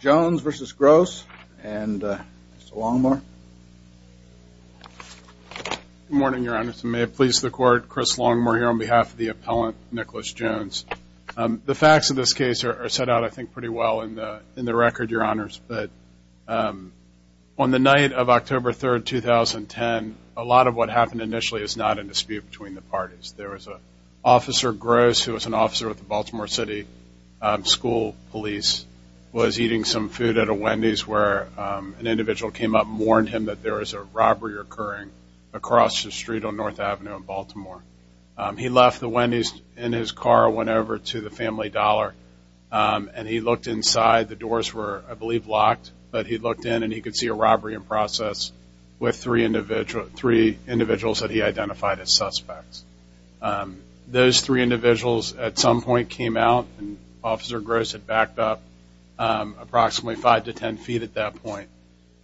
Jones versus Gross and Longmore. Good morning Your Honor. May it please the Court. Chris Longmore here on behalf of the appellant Nicholas Jones. The facts of this case are set out I think pretty well in the in the record Your Honors but on the night of October 3rd 2010 a lot of what happened initially is not a dispute between the parties. There was a officer Gross who was an officer with was eating some food at a Wendy's where an individual came up warned him that there was a robbery occurring across the street on North Avenue in Baltimore. He left the Wendy's in his car went over to the family dollar and he looked inside the doors were I believe locked but he looked in and he could see a robbery in process with three individuals that he identified as suspects. Those three individuals at some point came out and officer Gross had backed up approximately five to ten feet at that point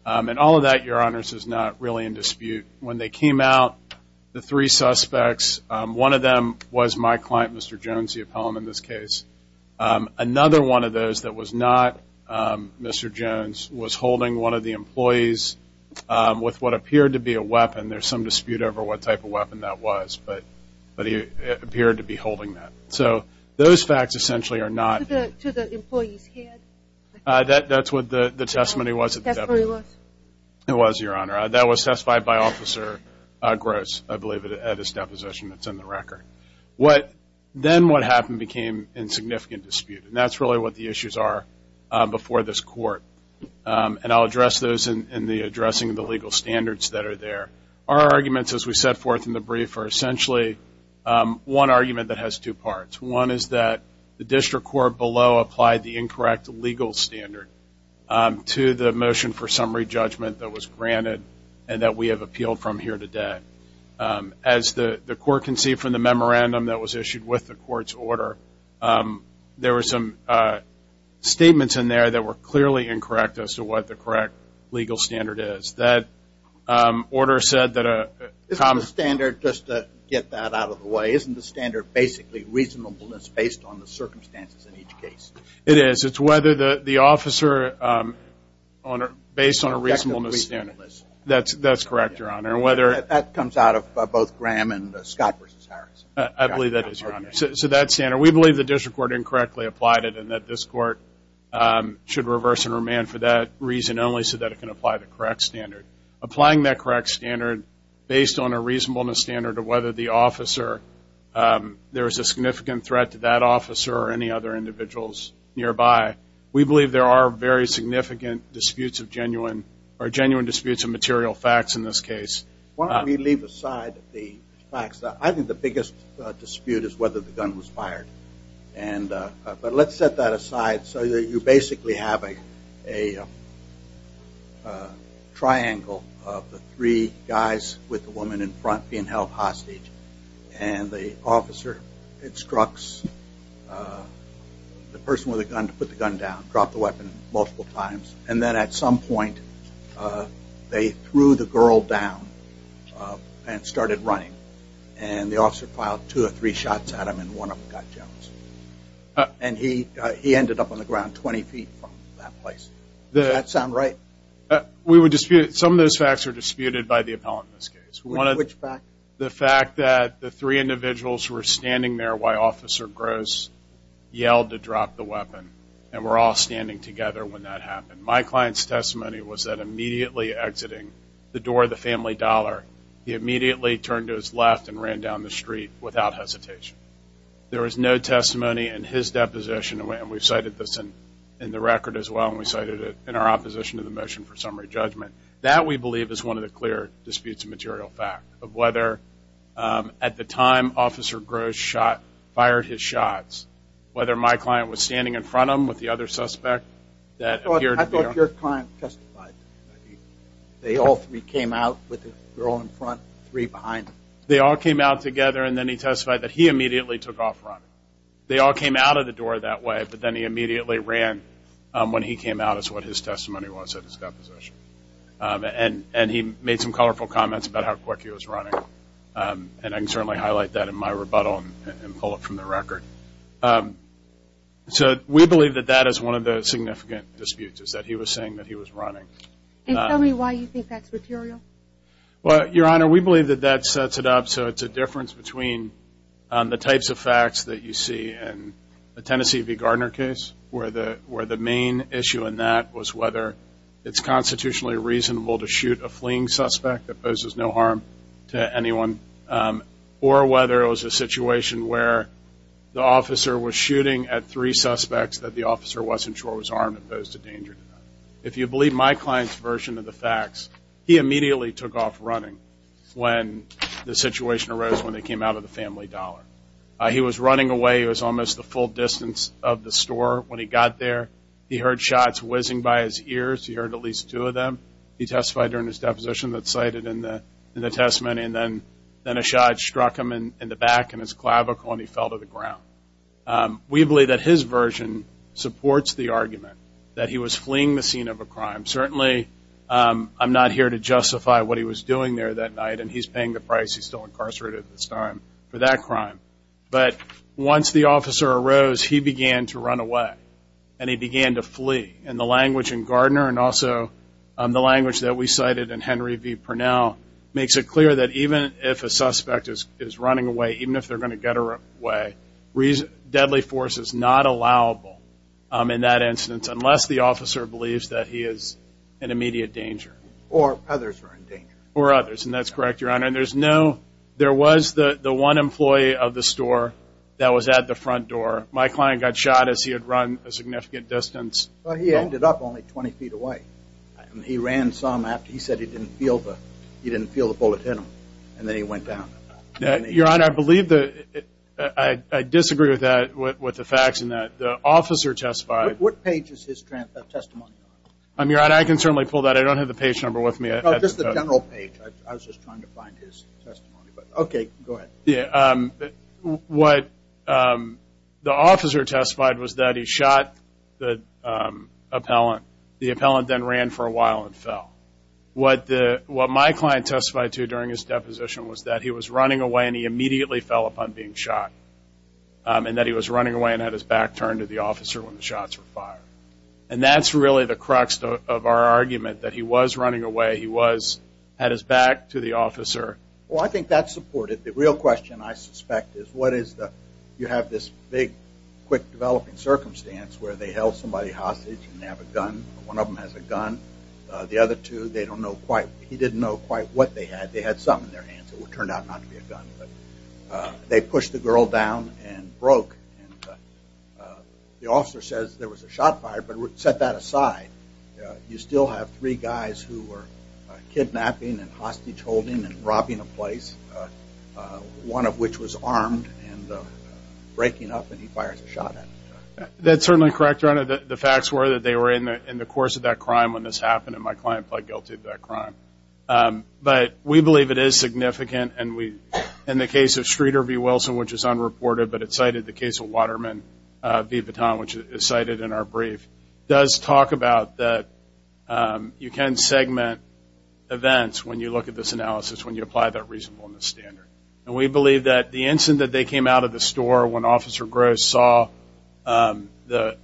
and all of that Your Honors is not really in dispute. When they came out the three suspects one of them was my client Mr. Jones the appellant in this case. Another one of those that was not Mr. Jones was holding one of the employees with what appeared to be a weapon. There's some dispute over what type of weapon that was but but he appeared to be holding that. So those facts essentially are not. To the employees head? That that's what the the testimony was. That's what it was? It was Your Honor. That was testified by officer Gross I believe at his deposition that's in the record. What then what happened became in significant dispute and that's really what the issues are before this court and I'll address those in the addressing of the legal standards that are there. Our arguments as we set forth in the one argument that has two parts. One is that the district court below applied the incorrect legal standard to the motion for summary judgment that was granted and that we have appealed from here today. As the the court can see from the memorandum that was issued with the court's order there were some statements in there that were clearly incorrect as to what the correct legal standard is. That order said that a common standard just to get that out of the way isn't the standard basically reasonableness based on the circumstances in each case? It is. It's whether the the officer based on a reasonableness standard. That's that's correct Your Honor. Whether that comes out of both Graham and Scott versus Harrison. I believe that is. So that's standard. We believe the district court incorrectly applied it and that this court should reverse and remand for that reason only so that it can apply the correct standard. Applying that correct standard based on a reasonableness standard of whether the officer there is a significant threat to that officer or any other individuals nearby. We believe there are very significant disputes of genuine or genuine disputes of material facts in this case. Why don't we leave aside the facts. I think the biggest dispute is whether the gun was fired and but let's set that aside so that you basically have a triangle of the three guys with a girl hostage and the officer instructs the person with a gun to put the gun down, drop the weapon multiple times and then at some point they threw the girl down and started running and the officer filed two or three shots at him and one of them got jealous and he he ended up on the ground 20 feet from that place. Does that sound right? We would dispute some of those facts are the fact that the three individuals who are standing there while officer Gross yelled to drop the weapon and we're all standing together when that happened. My client's testimony was that immediately exiting the door of the family dollar, he immediately turned to his left and ran down the street without hesitation. There is no testimony in his deposition and we've cited this in the record as well and we cited it in our opposition to the motion for summary judgment. That we believe is one of the clear disputes of material fact of whether at the time officer Gross shot fired his shots, whether my client was standing in front of him with the other suspect. I thought your client testified. They all three came out with the girl in front, three behind. They all came out together and then he testified that he immediately took off running. They all came out of the door that way but then he immediately ran when he came out is what his testimony was at his deposition. And he made some colorful comments about how quick he was running and I can certainly highlight that in my rebuttal and pull it from the record. So we believe that that is one of the significant disputes is that he was saying that he was running. And tell me why you think that's material? Well your honor we believe that that sets it up so it's a difference between the types of facts that you see in the Tennessee v Gardner case where the where the main issue in that was whether it's constitutionally reasonable to shoot a fleeing suspect that poses no harm to anyone or whether it was a situation where the officer was shooting at three suspects that the officer wasn't sure was armed and posed a danger. If you believe my client's version of the facts, he immediately took off running when the situation arose when they came out of the family dollar. He was running away. It was almost the full distance of the shots whizzing by his ears. He heard at least two of them. He testified during his deposition that cited in the testament and then then a shot struck him in the back and his clavicle and he fell to the ground. We believe that his version supports the argument that he was fleeing the scene of a crime. Certainly I'm not here to justify what he was doing there that night and he's paying the price. He's still incarcerated at this time for that crime. But once the officer arose, he began to run away and he began to flee. And the language in Gardner and also the language that we cited in Henry v. Purnell makes it clear that even if a suspect is running away, even if they're going to get away, deadly force is not allowable in that instance unless the officer believes that he is in immediate danger or others or others. And that's correct. Your Honor, there was the one employee of the store that was at the front door. My client got shot as he had run a significant distance. He ended up only 20 feet away. He ran some after he said he didn't feel the bullet hit him and then he went down. Your Honor, I believe that I disagree with that with the facts in that the officer testified. What page is his testimony on? Your Honor, I can certainly pull that. I don't have the page number with me. Just the general page. I was just trying to find his testimony. Okay, go ahead. What the officer testified was that he shot the appellant. The appellant then ran for a while and fell. What my client testified to during his deposition was that he was running away and he immediately fell upon being shot. And that he was running away and had his back turned to the officer when the shots were fired. And that's really the way he was. Had his back to the officer. Well, I think that's supported. The real question I suspect is what is the... You have this big, quick developing circumstance where they held somebody hostage and they have a gun. One of them has a gun. The other two, they don't know quite... He didn't know quite what they had. They had something in their hands. It would turn out not to be a gun. But they pushed the girl down and broke. The officer says there was a shot fired, but set that aside, you still have three guys who were kidnapping and hostage holding and robbing a place. One of which was armed and breaking up and he fires a shot at him. That's certainly correct, your honor. The facts were that they were in the course of that crime when this happened and my client pled guilty to that crime. But we believe it is significant and we, in the case of Streeter v. Wilson, which is unreported, but it cited the case of Waterman v. Vuitton, which is cited in our brief, does talk about that you can segment events when you look at this analysis, when you apply that reasonableness standard. And we believe that the instant that they came out of the store, when Officer Gross saw the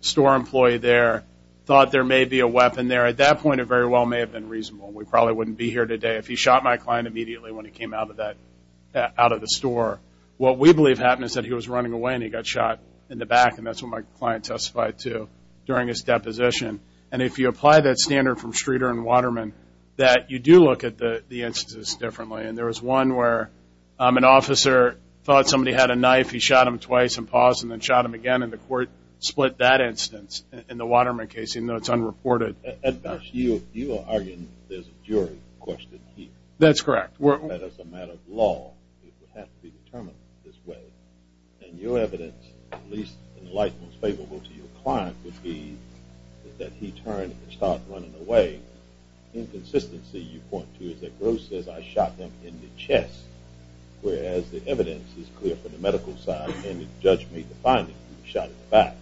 store employee there, thought there may be a weapon there, at that point it very well may have been reasonable. We probably wouldn't be here today if he shot my client immediately when he came out of the store. What we believe happened is that he was running away and he got shot in the back and that's what my client testified to during his deposition. And if you apply that standard from Streeter and Waterman, that you do look at the instances differently. And there was one where an officer thought somebody had a knife, he shot him twice and paused and then shot him again and the court split that instance in the Waterman case, even though it's unreported. At best, you are arguing there's a jury question here. That's correct. That as a matter of law, it would have to be determined this way. And your evidence, at least in the light most favorable to your client, would be that he turned and started running away. Inconsistency, you point to, is that Gross says I shot him in the chest, whereas the evidence is clear from the medical side and the judge may define that he was shot in the back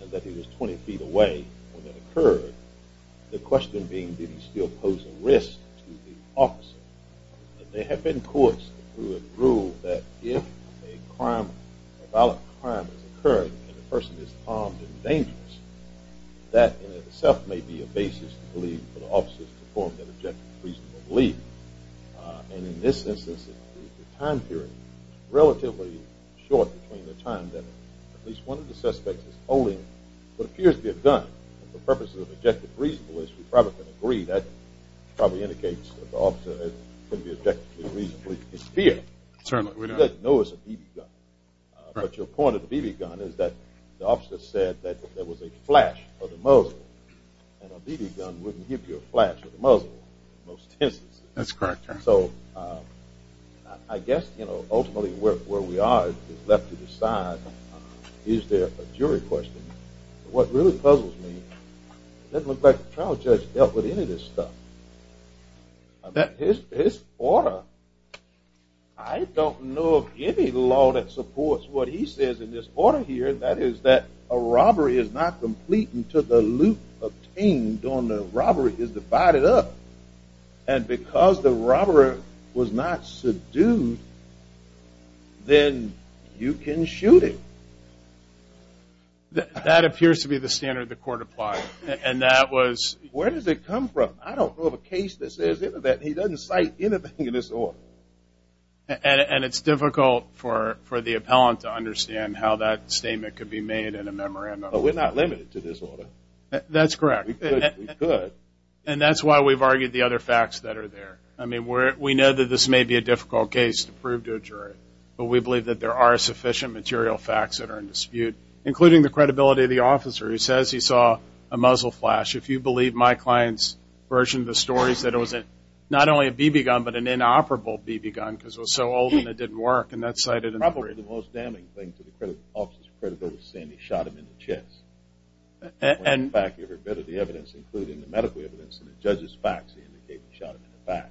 and that he was 20 feet away when that occurred. The question being, did he still pose a risk to the officer? There have been courts who have ruled that if a crime, a violent crime is occurring and the person is armed and dangerous, that in itself may be a basis to believe for the officers to form an objective, reasonable belief. And in this instance, the time period is relatively short between the time that at least one of the suspects is holding what appears to be a gun. The purpose of indicates that the officer could be objectively reasonable in fear. He doesn't know it's a BB gun. But your point of the BB gun is that the officer said that there was a flash of the muzzle and a BB gun wouldn't give you a flash of the muzzle in most instances. That's correct. So I guess, you know, ultimately where we are is left to decide, is there a jury question? What really puzzles me, it doesn't look like the trial judge dealt with any of this stuff. His order, I don't know of any law that supports what he says in this order here, that is that a robbery is not complete until the loot obtained on the robbery is divided up. And because the robber was not subdued, then you can shoot him. That appears to be the standard the court applied. And that was... Where does it come from? I don't know of a case that says that he doesn't cite anything in this order. And it's difficult for the appellant to understand how that statement could be made in a memorandum. But we're not limited to this order. That's correct. And that's why we've argued the other facts that are there. I mean, we know that this may be a difficult case to prove to a jury, but we believe that there are sufficient material facts that are in dispute, including the credibility of the defendant. We saw a muzzle flash. If you believe my client's version of the stories, that it was not only a BB gun, but an inoperable BB gun, because it was so old and it didn't work. And that's cited in the brief. Probably the most damning thing to the officer's credibility is saying he shot him in the chest. In fact, every bit of the evidence, including the medical evidence and the judge's facts, indicate he shot him in the back.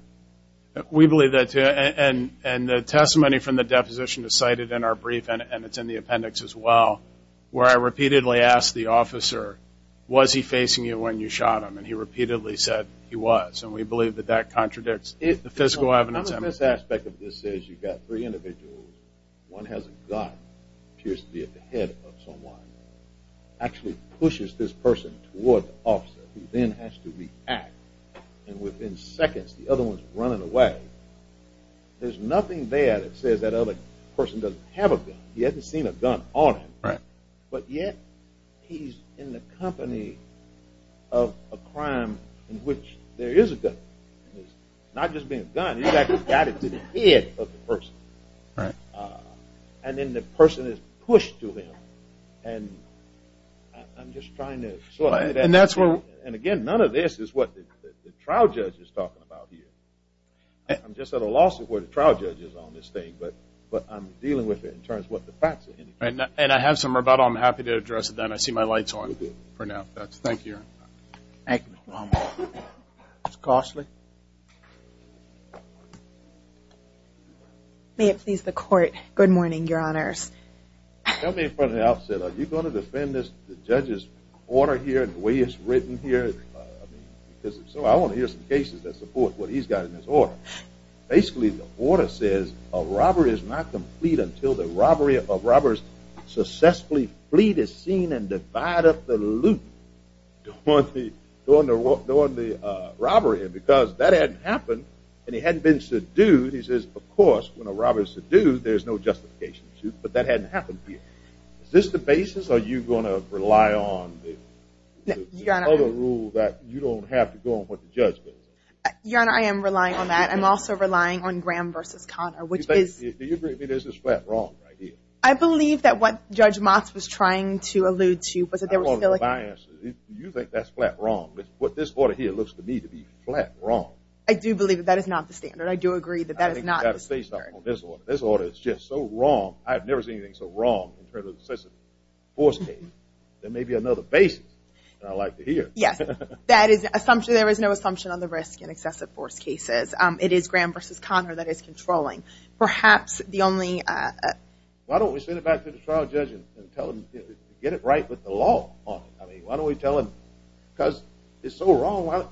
We believe that too. And the testimony from the deposition is cited in our brief, and it's in the appendix as well, where I repeatedly asked the officer, was he facing you when you shot him? And he repeatedly said he was. And we believe that that contradicts the physical evidence. Another aspect of this is you've got three individuals. One has a gun, appears to be at the head of someone, actually pushes this person toward the officer, who then has to react. And within seconds, the other one's running away. There's nothing there that says that other person doesn't have a gun. He hasn't seen a gun on him. But yet, he's in the company of a crime in which there is a gun. Not just being a gun, he's actually got it to the head of the person. And then the person is pushed to him. And again, none of this is what the trial judge is talking about here. I'm just at a loss of where the trial judge is on this thing, but I'm dealing with it in terms of what the facts are. And I have some rebuttal. I'm happy to address it then. I see my light's on for now. Thank you. Thank you. May it please the court. Good morning, your honors. Tell me from the outset, are you going to defend the judge's order here and the way it's written here? Because I want to hear some cases that support what he's got in his order. Basically, the order says a robbery is not complete until the robbery of robbers successfully flea the scene and divide up the loot during the robbery. Because that hadn't happened, and he hadn't been subdued. He says, of course, when a robber is subdued, there's no justification. But that hadn't happened here. Is this the basis, or are you going to rely on the other rule that you don't have to go on what the judge says? Your honor, I am relying on that. I'm also relying on Graham v. Connor, which is... Do you agree with me that this is flat wrong right here? I believe that what Judge Motz was trying to allude to was that there was... You think that's flat wrong. What this order here looks to me to be flat wrong. I do believe that that is not the standard. I do agree that that is not the standard. I think you've got to say something on this order. This order is just so wrong. I've never seen anything so wrong in terms of excessive force cases. There may be another basis that I'd like to hear. Yes. That is an assumption. There is no assumption on the risk in excessive force cases. It is Graham v. Connor that is controlling. Perhaps the only... Why don't we send it back to the trial judge and tell him to get it right with the law on it? Why don't we tell him... Because it's so wrong.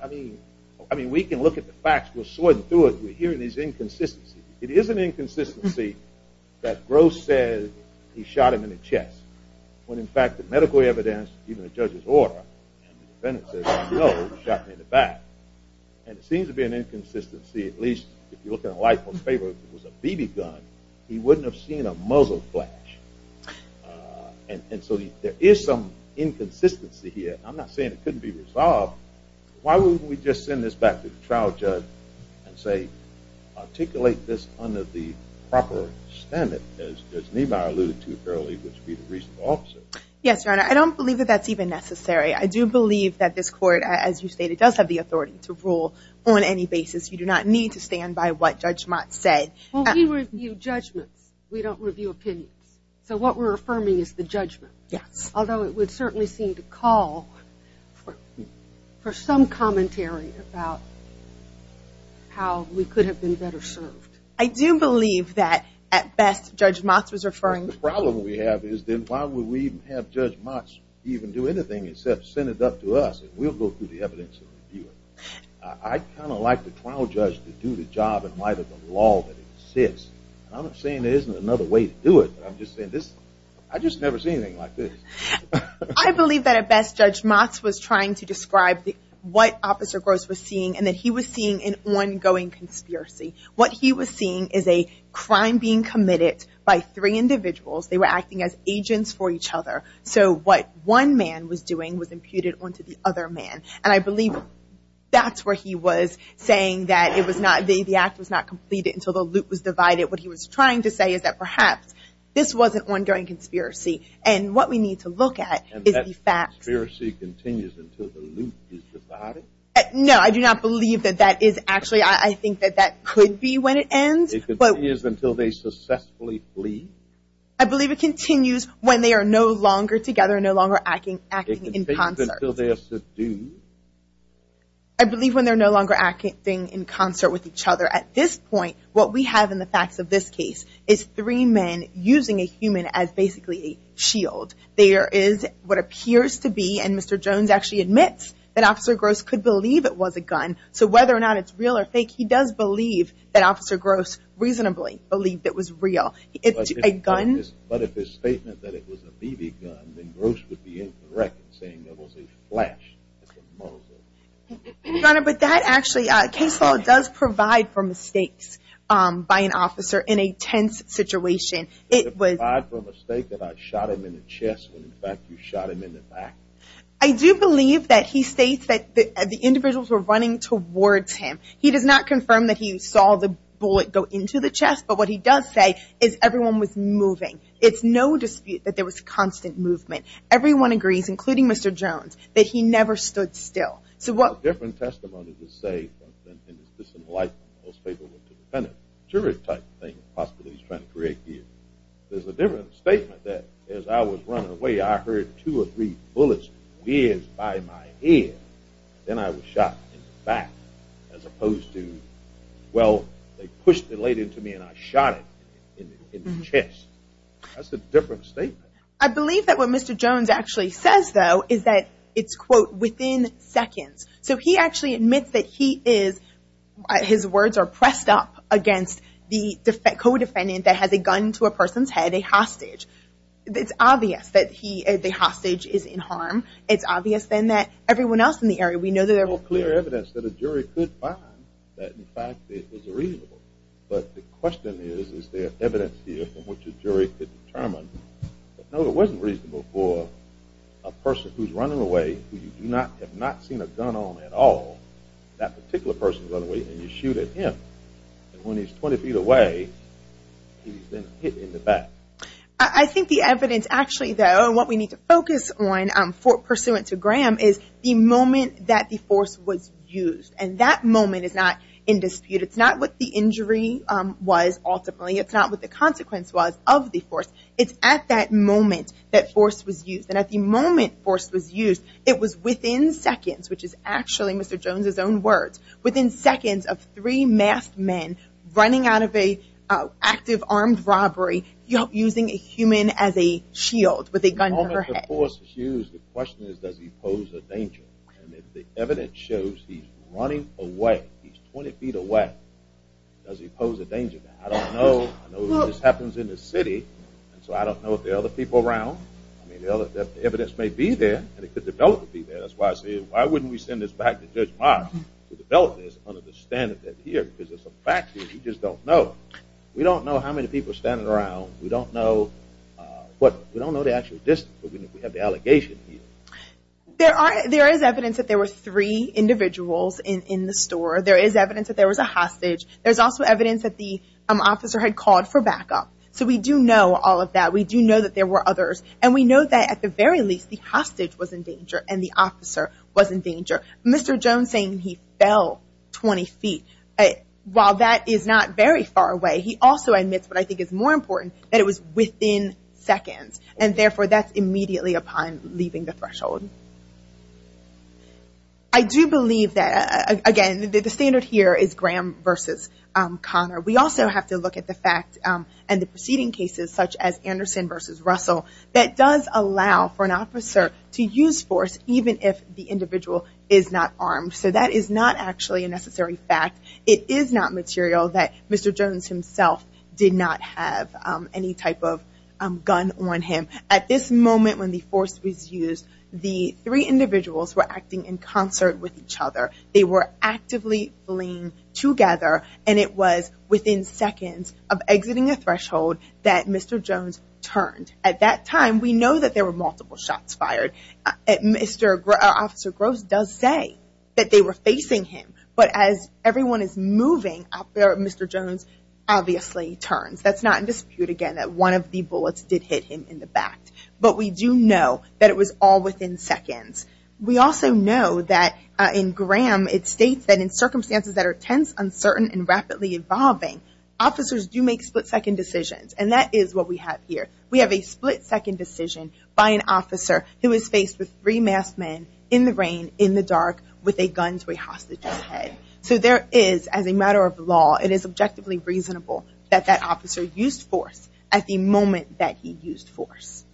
We can look at the facts. We'll sort through it. We're hearing these inconsistencies. It is an inconsistency that Gross said he shot him in the chest, when in fact the medical evidence, even the judge's order, and the defendant says no, shot him in the back. And it seems to be an inconsistency, at least if you look at a life of favor, if it was a BB gun, he wouldn't have seen a muzzle flash. And so there is some inconsistency here. I'm not saying it couldn't be resolved. Why wouldn't we just send this back to the trial judge and say, articulate this under the proper standard, as Niemeyer alluded to earlier, which would be the reasonable officer. Yes, Your Honor. I don't believe that that's even necessary. I do believe that this court, as you stated, does have the authority to rule on any basis. You do not need to stand by what Judge Mott said. Well, we review judgments. We don't review opinions. So what we're affirming is the judgment. Yes. Although it would certainly seem to call for some commentary about how we could have been better served. I do believe that, at best, Judge Mott was referring to... We can't have Judge Mott even do anything except send it up to us, and we'll go through the evidence and review it. I kind of like the trial judge to do the job in light of the law that exists. I'm not saying there isn't another way to do it, but I'm just saying this... I've just never seen anything like this. I believe that, at best, Judge Mott was trying to describe what Officer Gross was seeing, and that he was seeing an ongoing conspiracy. What he was seeing is a crime being committed by three individuals. They were acting as agents for each other. So what one man was doing was imputed onto the other man, and I believe that's where he was saying that the act was not completed until the loop was divided. What he was trying to say is that perhaps this was an ongoing conspiracy, and what we need to look at is the facts. And that conspiracy continues until the loop is divided? No, I do not believe that that is actually... I think that that could be when it ends. It continues until they successfully flee? I believe it continues when they are no longer together, no longer acting in concert. It continues until they're subdued? I believe when they're no longer acting in concert with each other. At this point, what we have in the facts of this case is three men using a human as basically a shield. There is what appears to be, and Mr. Jones actually admits that Officer Gross could believe it was a gun, so whether or not it's real or fake, he does believe that Officer Gross reasonably believed it was real. It was a gun? But if his statement that it was a BB gun, then Gross would be incorrect in saying it was a flash. Your Honor, but that actually... Case law does provide for mistakes by an officer in a tense situation. It did provide for a mistake that I shot him in the chest when, in fact, you shot him in the back. I do believe that he states that the individuals were running towards him. Yes, but what he does say is everyone was moving. It's no dispute that there was constant movement. Everyone agrees, including Mr. Jones, that he never stood still. So what... It's a different testimony to say that in his disenlightenment, those people were dependent, jury-type thing, possibly he's trying to create here. There's a different statement that as I was running away, I heard two or three bullets whiz by my head. Then I was shot in the back as opposed to, well, they pushed the blade into me and I shot it in the chest. That's a different statement. I believe that what Mr. Jones actually says, though, is that it's, quote, within seconds. So he actually admits that he is, his words are pressed up against the co-defendant that has a gun to a person's head, a hostage. It's obvious then that everyone else in the area, we know that there was... There's no clear evidence that a jury could find that, in fact, it was reasonable. But the question is, is there evidence here from which a jury could determine, no, it wasn't reasonable for a person who's running away, who you do not, have not seen a gun on at all, that particular person is running away and you shoot at him. And when he's 20 feet away, he's been hit in the back. I think the evidence, actually, though, what we need to focus on, pursuant to Graham, is the moment that the force was used. And that moment is not in dispute. It's not what the injury was ultimately. It's not what the consequence was of the force. It's at that moment that force was used. And at the moment force was used, it was within seconds, which is actually Mr. Jones' own words, within seconds of three masked men running out of an active armed robbery using a human as a shield with a gun to their head. The moment the force was used, the question is, does he pose a danger? And if the evidence shows he's running away, he's 20 feet away, does he pose a danger? I don't know. I know this happens in the city, and so I don't know if there are other people around. I mean, the evidence may be there, and it could develop to be there. That's why I say, why wouldn't we send this back to Judge Moss to develop this under the standard that's here? Because it's a fact that we just don't know. We don't know how many people are standing around. We don't know the actual distance. We have the allegation here. There is evidence that there were three individuals in the store. There is evidence that there was a hostage. There's also evidence that the officer had called for backup. So we do know all of that. We do know that there were others. And we know that, at the very least, the hostage was in danger and the officer was in danger. Mr. Jones saying he fell 20 feet, while that is not very far away, he also admits what I think is more important, that it was within seconds. And, therefore, that's immediately upon leaving the threshold. I do believe that, again, the standard here is Graham versus Connor. We also have to look at the fact and the preceding cases, such as Anderson versus Russell, that does allow for an officer to use force, even if the individual is not armed. So that is not actually a necessary fact. It is not material that Mr. Jones himself did not have any type of gun on him. At this moment, when the force was used, the three individuals were acting in concert with each other. They were actively fleeing together. And it was within seconds of exiting a threshold that Mr. Jones turned. At that time, we know that there were multiple shots fired. Officer Gross does say that they were facing him. But as everyone is moving, Mr. Jones obviously turns. That's not in dispute, again, that one of the bullets did hit him in the back. But we do know that it was all within seconds. We also know that, in Graham, it states that in circumstances that are tense, uncertain, and rapidly evolving, officers do make split-second decisions. And that is what we have here. We have a split-second decision by an officer who is faced with three masked men in the rain, in the dark, with a gun to a hostage's head. So there is, as a matter of law, it is objectively reasonable that that officer used force at the moment that he used force.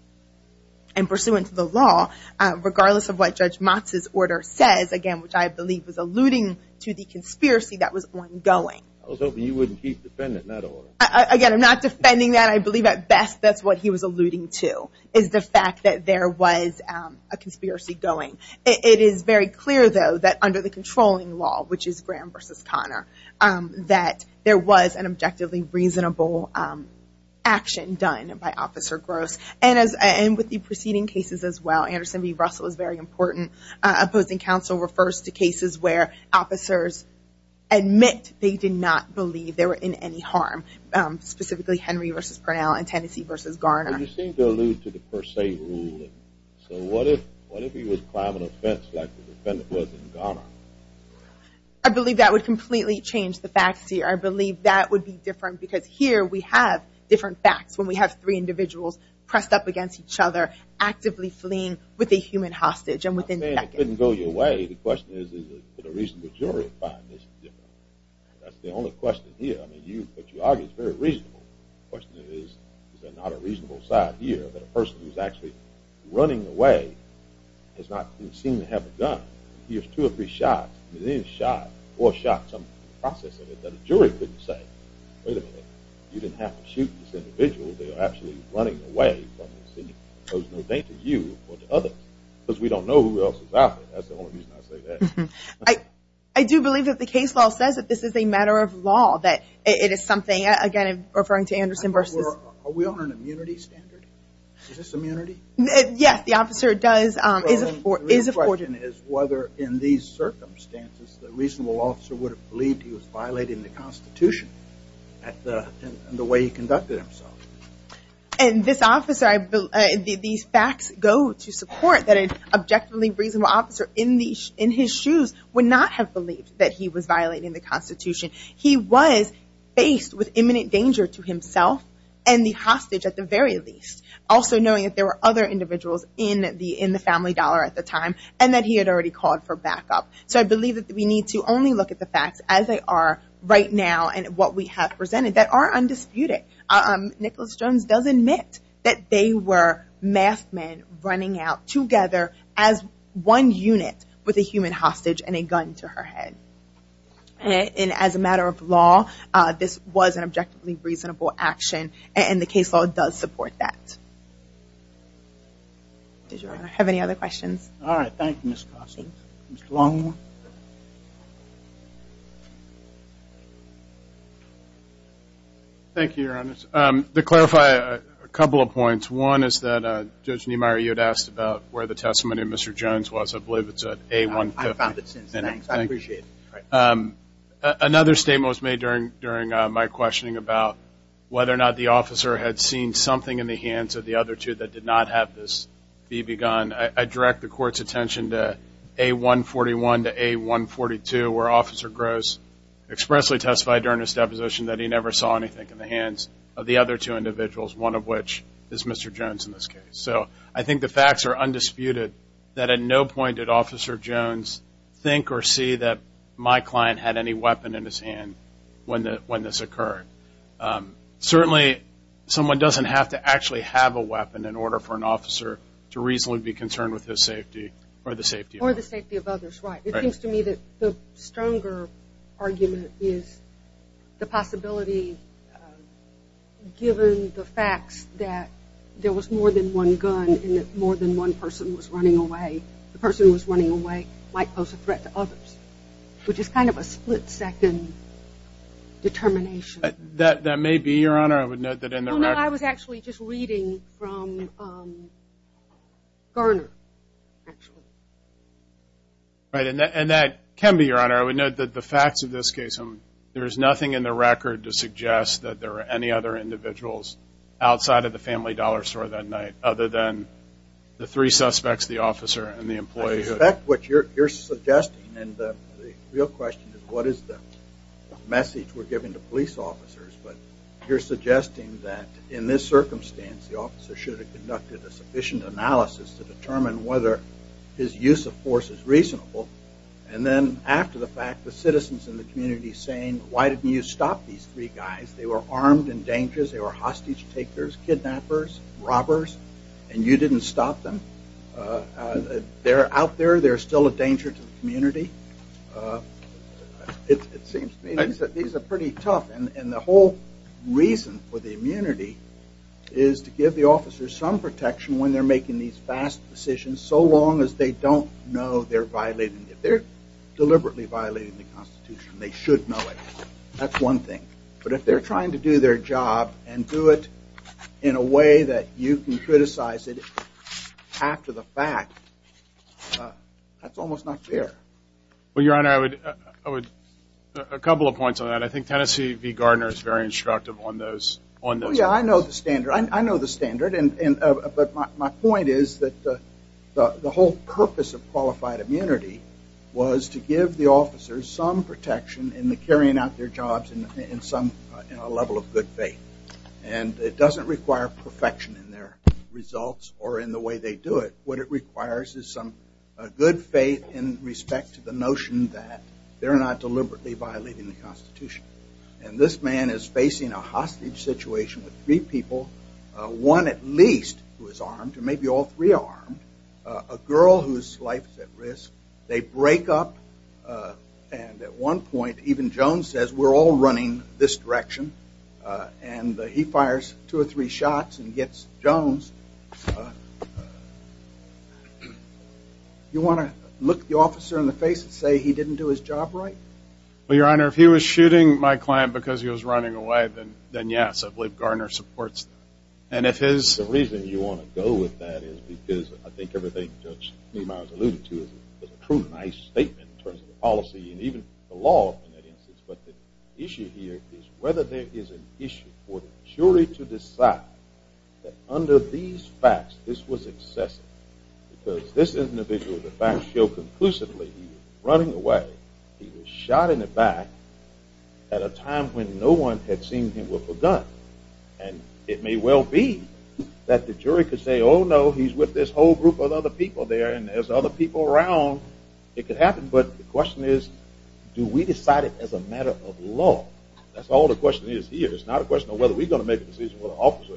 And pursuant to the law, regardless of what Judge Motz's order says, again, which I believe was alluding to the conspiracy that was ongoing. I was hoping you wouldn't keep defending that order. Again, I'm not defending that. I believe at best that's what he was alluding to, is the fact that there was a conspiracy going. It is very clear, though, that under the controlling law, which is Graham versus Connor, that there was an objectively reasonable action done by Officer Gross. And with the preceding cases as well, Anderson v. Russell is very important. Opposing counsel refers to cases where officers admit they did not believe they were in any harm. Specifically, Henry v. Parnell and Tennessee v. Garner. But you seem to allude to the per se rule. So what if he was climbing a fence like the defendant was in Garner? I believe that would completely change the facts here. I believe that would be different because here we have different facts when we have three individuals pressed up against each other, actively fleeing with a human hostage and within seconds. I mean, it couldn't go your way. The question is, is there a reasonable jury to find this different? That's the only question here. I mean, what you argue is very reasonable. The question is, is there not a reasonable side here that a person who is actually running away does not seem to have a gun. He has two or three shots, maybe a shot, four shots, I'm processing it, that a jury couldn't say, wait a minute, you didn't have to shoot this individual. They are actually running away. So there's no danger to you or to others. Because we don't know who else is out there. That's the only reason I say that. I do believe that the case law says that this is a matter of law, that it is something, again, referring to Anderson versus. Are we on an immunity standard? Is this immunity? Yes, the officer does, is afforded. The question is whether in these circumstances the reasonable officer would have believed he was violating the Constitution in the way he conducted himself. And this officer, these facts go to support that an objectively reasonable officer in his shoes would not have believed that he was violating the Constitution. He was faced with imminent danger to himself and the hostage at the very least, also knowing that there were other individuals in the family dollar at the time and that he had already called for backup. So I believe that we need to only look at the facts as they are right now and what we have presented that are undisputed. Nicholas Jones does admit that they were masked men running out together as one unit with a human hostage and a gun to her head. And as a matter of law, this was an objectively reasonable action, and the case law does support that. Does your Honor have any other questions? All right. Thank you, Mr. Carson. Mr. Longhorn. Thank you, Your Honor. To clarify a couple of points. One is that Judge Niemeyer, you had asked about where the testimony of Mr. Jones was. I believe it's at A-150. I found it since then. Thanks. I appreciate it. Another statement was made during my questioning about whether or not the officer had seen something in the hands of the other two that did not have this be begun. I direct the Court's attention to A-141 to A-142, where Officer Gross expressly testified during his deposition that he never saw anything in the hands of the other two individuals, one of which is Mr. Jones in this case. So I think the facts are undisputed that at no point did Officer Jones think or see that my client had any weapon in his hand when this occurred. Certainly, someone doesn't have to actually have a weapon in order for an officer to reasonably be concerned with his safety or the safety of others. Or the safety of others, right. It seems to me that the stronger argument is the possibility, given the facts that there was more than one gun and that more than one person was running away, the person who was running away might pose a threat to others, which is kind of a split-second determination. That may be, Your Honor. I would note that in the record. Well, I was actually just reading from Garner, actually. Right. And that can be, Your Honor. I would note that the facts of this case, there is nothing in the record to suggest that there were any other individuals outside of the Family Dollar Store that night other than the three suspects, the officer and the employee. I suspect what you're suggesting and the real question is what is the message we're giving to police officers, but you're suggesting that in this circumstance, the officer should have conducted a sufficient analysis to determine whether his use of force is reasonable. And then after the fact, the citizens in the community saying, why didn't you stop these three guys? They were armed and dangerous. They were hostage takers, kidnappers, robbers, and you didn't stop them. They're out there. They're still a danger to the community. It seems to me that these are pretty tough. And the whole reason for the immunity is to give the officers some protection when they're making these fast decisions, so long as they don't know they're violating it. If they're deliberately violating the Constitution, they should know it. That's one thing. But if they're trying to do their job and do it in a way that you can criticize it after the fact, that's almost not fair. Well, Your Honor, I would – a couple of points on that. I think Tennessee v. Gardner is very instructive on those. Well, yeah, I know the standard. I know the standard, but my point is that the whole purpose of qualified immunity was to give the officers some protection in the carrying out their jobs in a level of good faith. And it doesn't require perfection in their results or in the way they do it. What it requires is some good faith in respect to the notion that they're not deliberately violating the Constitution. And this man is facing a hostage situation with three people, one at least who is armed, or maybe all three are armed, a girl whose life is at risk. They break up, and at one point even Jones says, we're all running this direction, and he fires two or three shots and gets Jones. You want to look the officer in the face and say he didn't do his job right? Well, Your Honor, if he was shooting my client because he was running away, then yes, I believe Gardner supports that. And if his – The reason you want to go with that is because I think everything Judge Niemeyer alluded to is a true nice statement in terms of the policy and even the law in that instance. But the issue here is whether there is an issue for the jury to decide that under these facts, this was excessive because this individual, the facts show conclusively he was running away, he was shot in the back at a time when no one had seen him with a gun. And it may well be that the jury could say, oh no, he's with this whole group of other people there and there's other people around, it could happen. But the question is do we decide it as a matter of law? That's all the question is here. It's not a question of whether we're going to make a decision whether the officer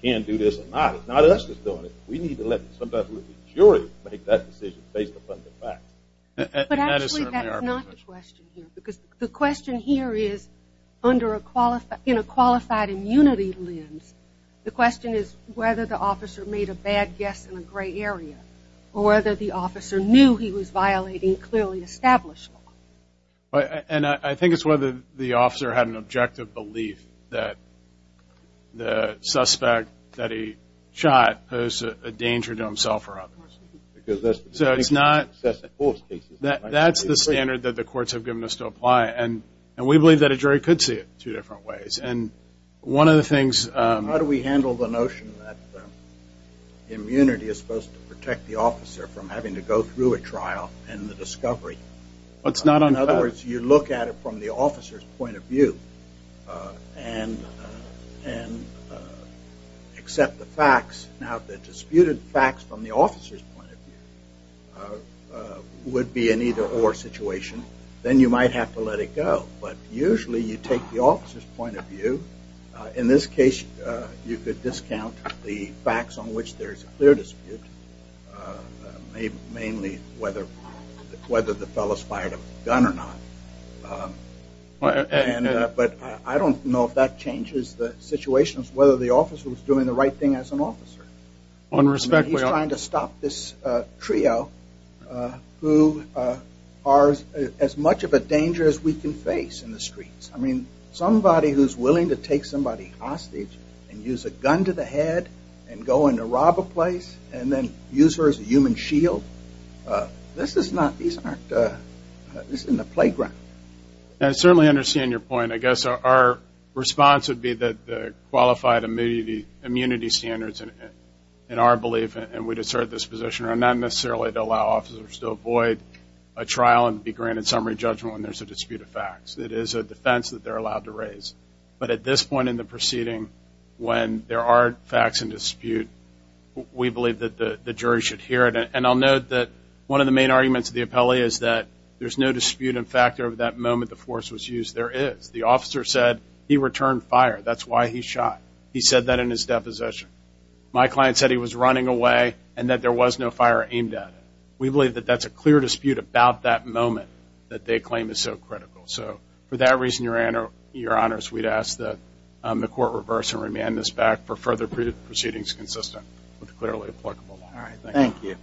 can do this or not. It's not us that's doing it. We need to let the jury make that decision based upon the facts. But actually that's not the question here because the question here is in a qualified immunity lens, the question is whether the officer made a bad guess in a gray area or whether the officer knew he was violating clearly established law. And I think it's whether the officer had an objective belief that the suspect that he shot posed a danger to himself or others. So it's not, that's the standard that the courts have given us to apply. And we believe that a jury could see it two different ways. And one of the things- How do we handle the notion that immunity is supposed to protect the officer from having to go through a trial and the discovery? In other words, you look at it from the officer's point of view and accept the facts. Now, if the disputed facts from the officer's point of view would be an either-or situation, then you might have to let it go. But usually you take the officer's point of view. In this case, you could discount the facts on which there's a clear dispute, mainly whether the fellow's fired a gun or not. But I don't know if that changes the situation, whether the officer was doing the right thing as an officer. He's trying to stop this trio who are as much of a danger as we can face in the streets. I mean, somebody who's willing to take somebody hostage and use a gun to the head and go in to rob a place and then use her as a human shield, this is not, these aren't, this isn't a playground. I certainly understand your point. And I guess our response would be that the qualified immunity standards in our belief, and we'd assert this position, are not necessarily to allow officers to avoid a trial and be granted summary judgment when there's a dispute of facts. It is a defense that they're allowed to raise. But at this point in the proceeding, when there are facts in dispute, we believe that the jury should hear it. And I'll note that one of the main arguments of the appellee is that there's no dispute in fact over that moment the force was used. There is. The officer said he returned fire. That's why he shot. He said that in his deposition. My client said he was running away and that there was no fire aimed at him. We believe that that's a clear dispute about that moment that they claim is so critical. So for that reason, Your Honors, we'd ask that the Court reverse and remand this back for further proceedings consistent with the clearly applicable law. All right. Thank you.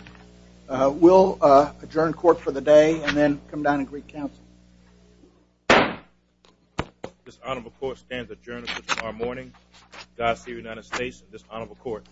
We'll adjourn court for the day and then come down and greet counsel. This Honorable Court stands adjourned until tomorrow morning. Dossier, United States. This Honorable Court.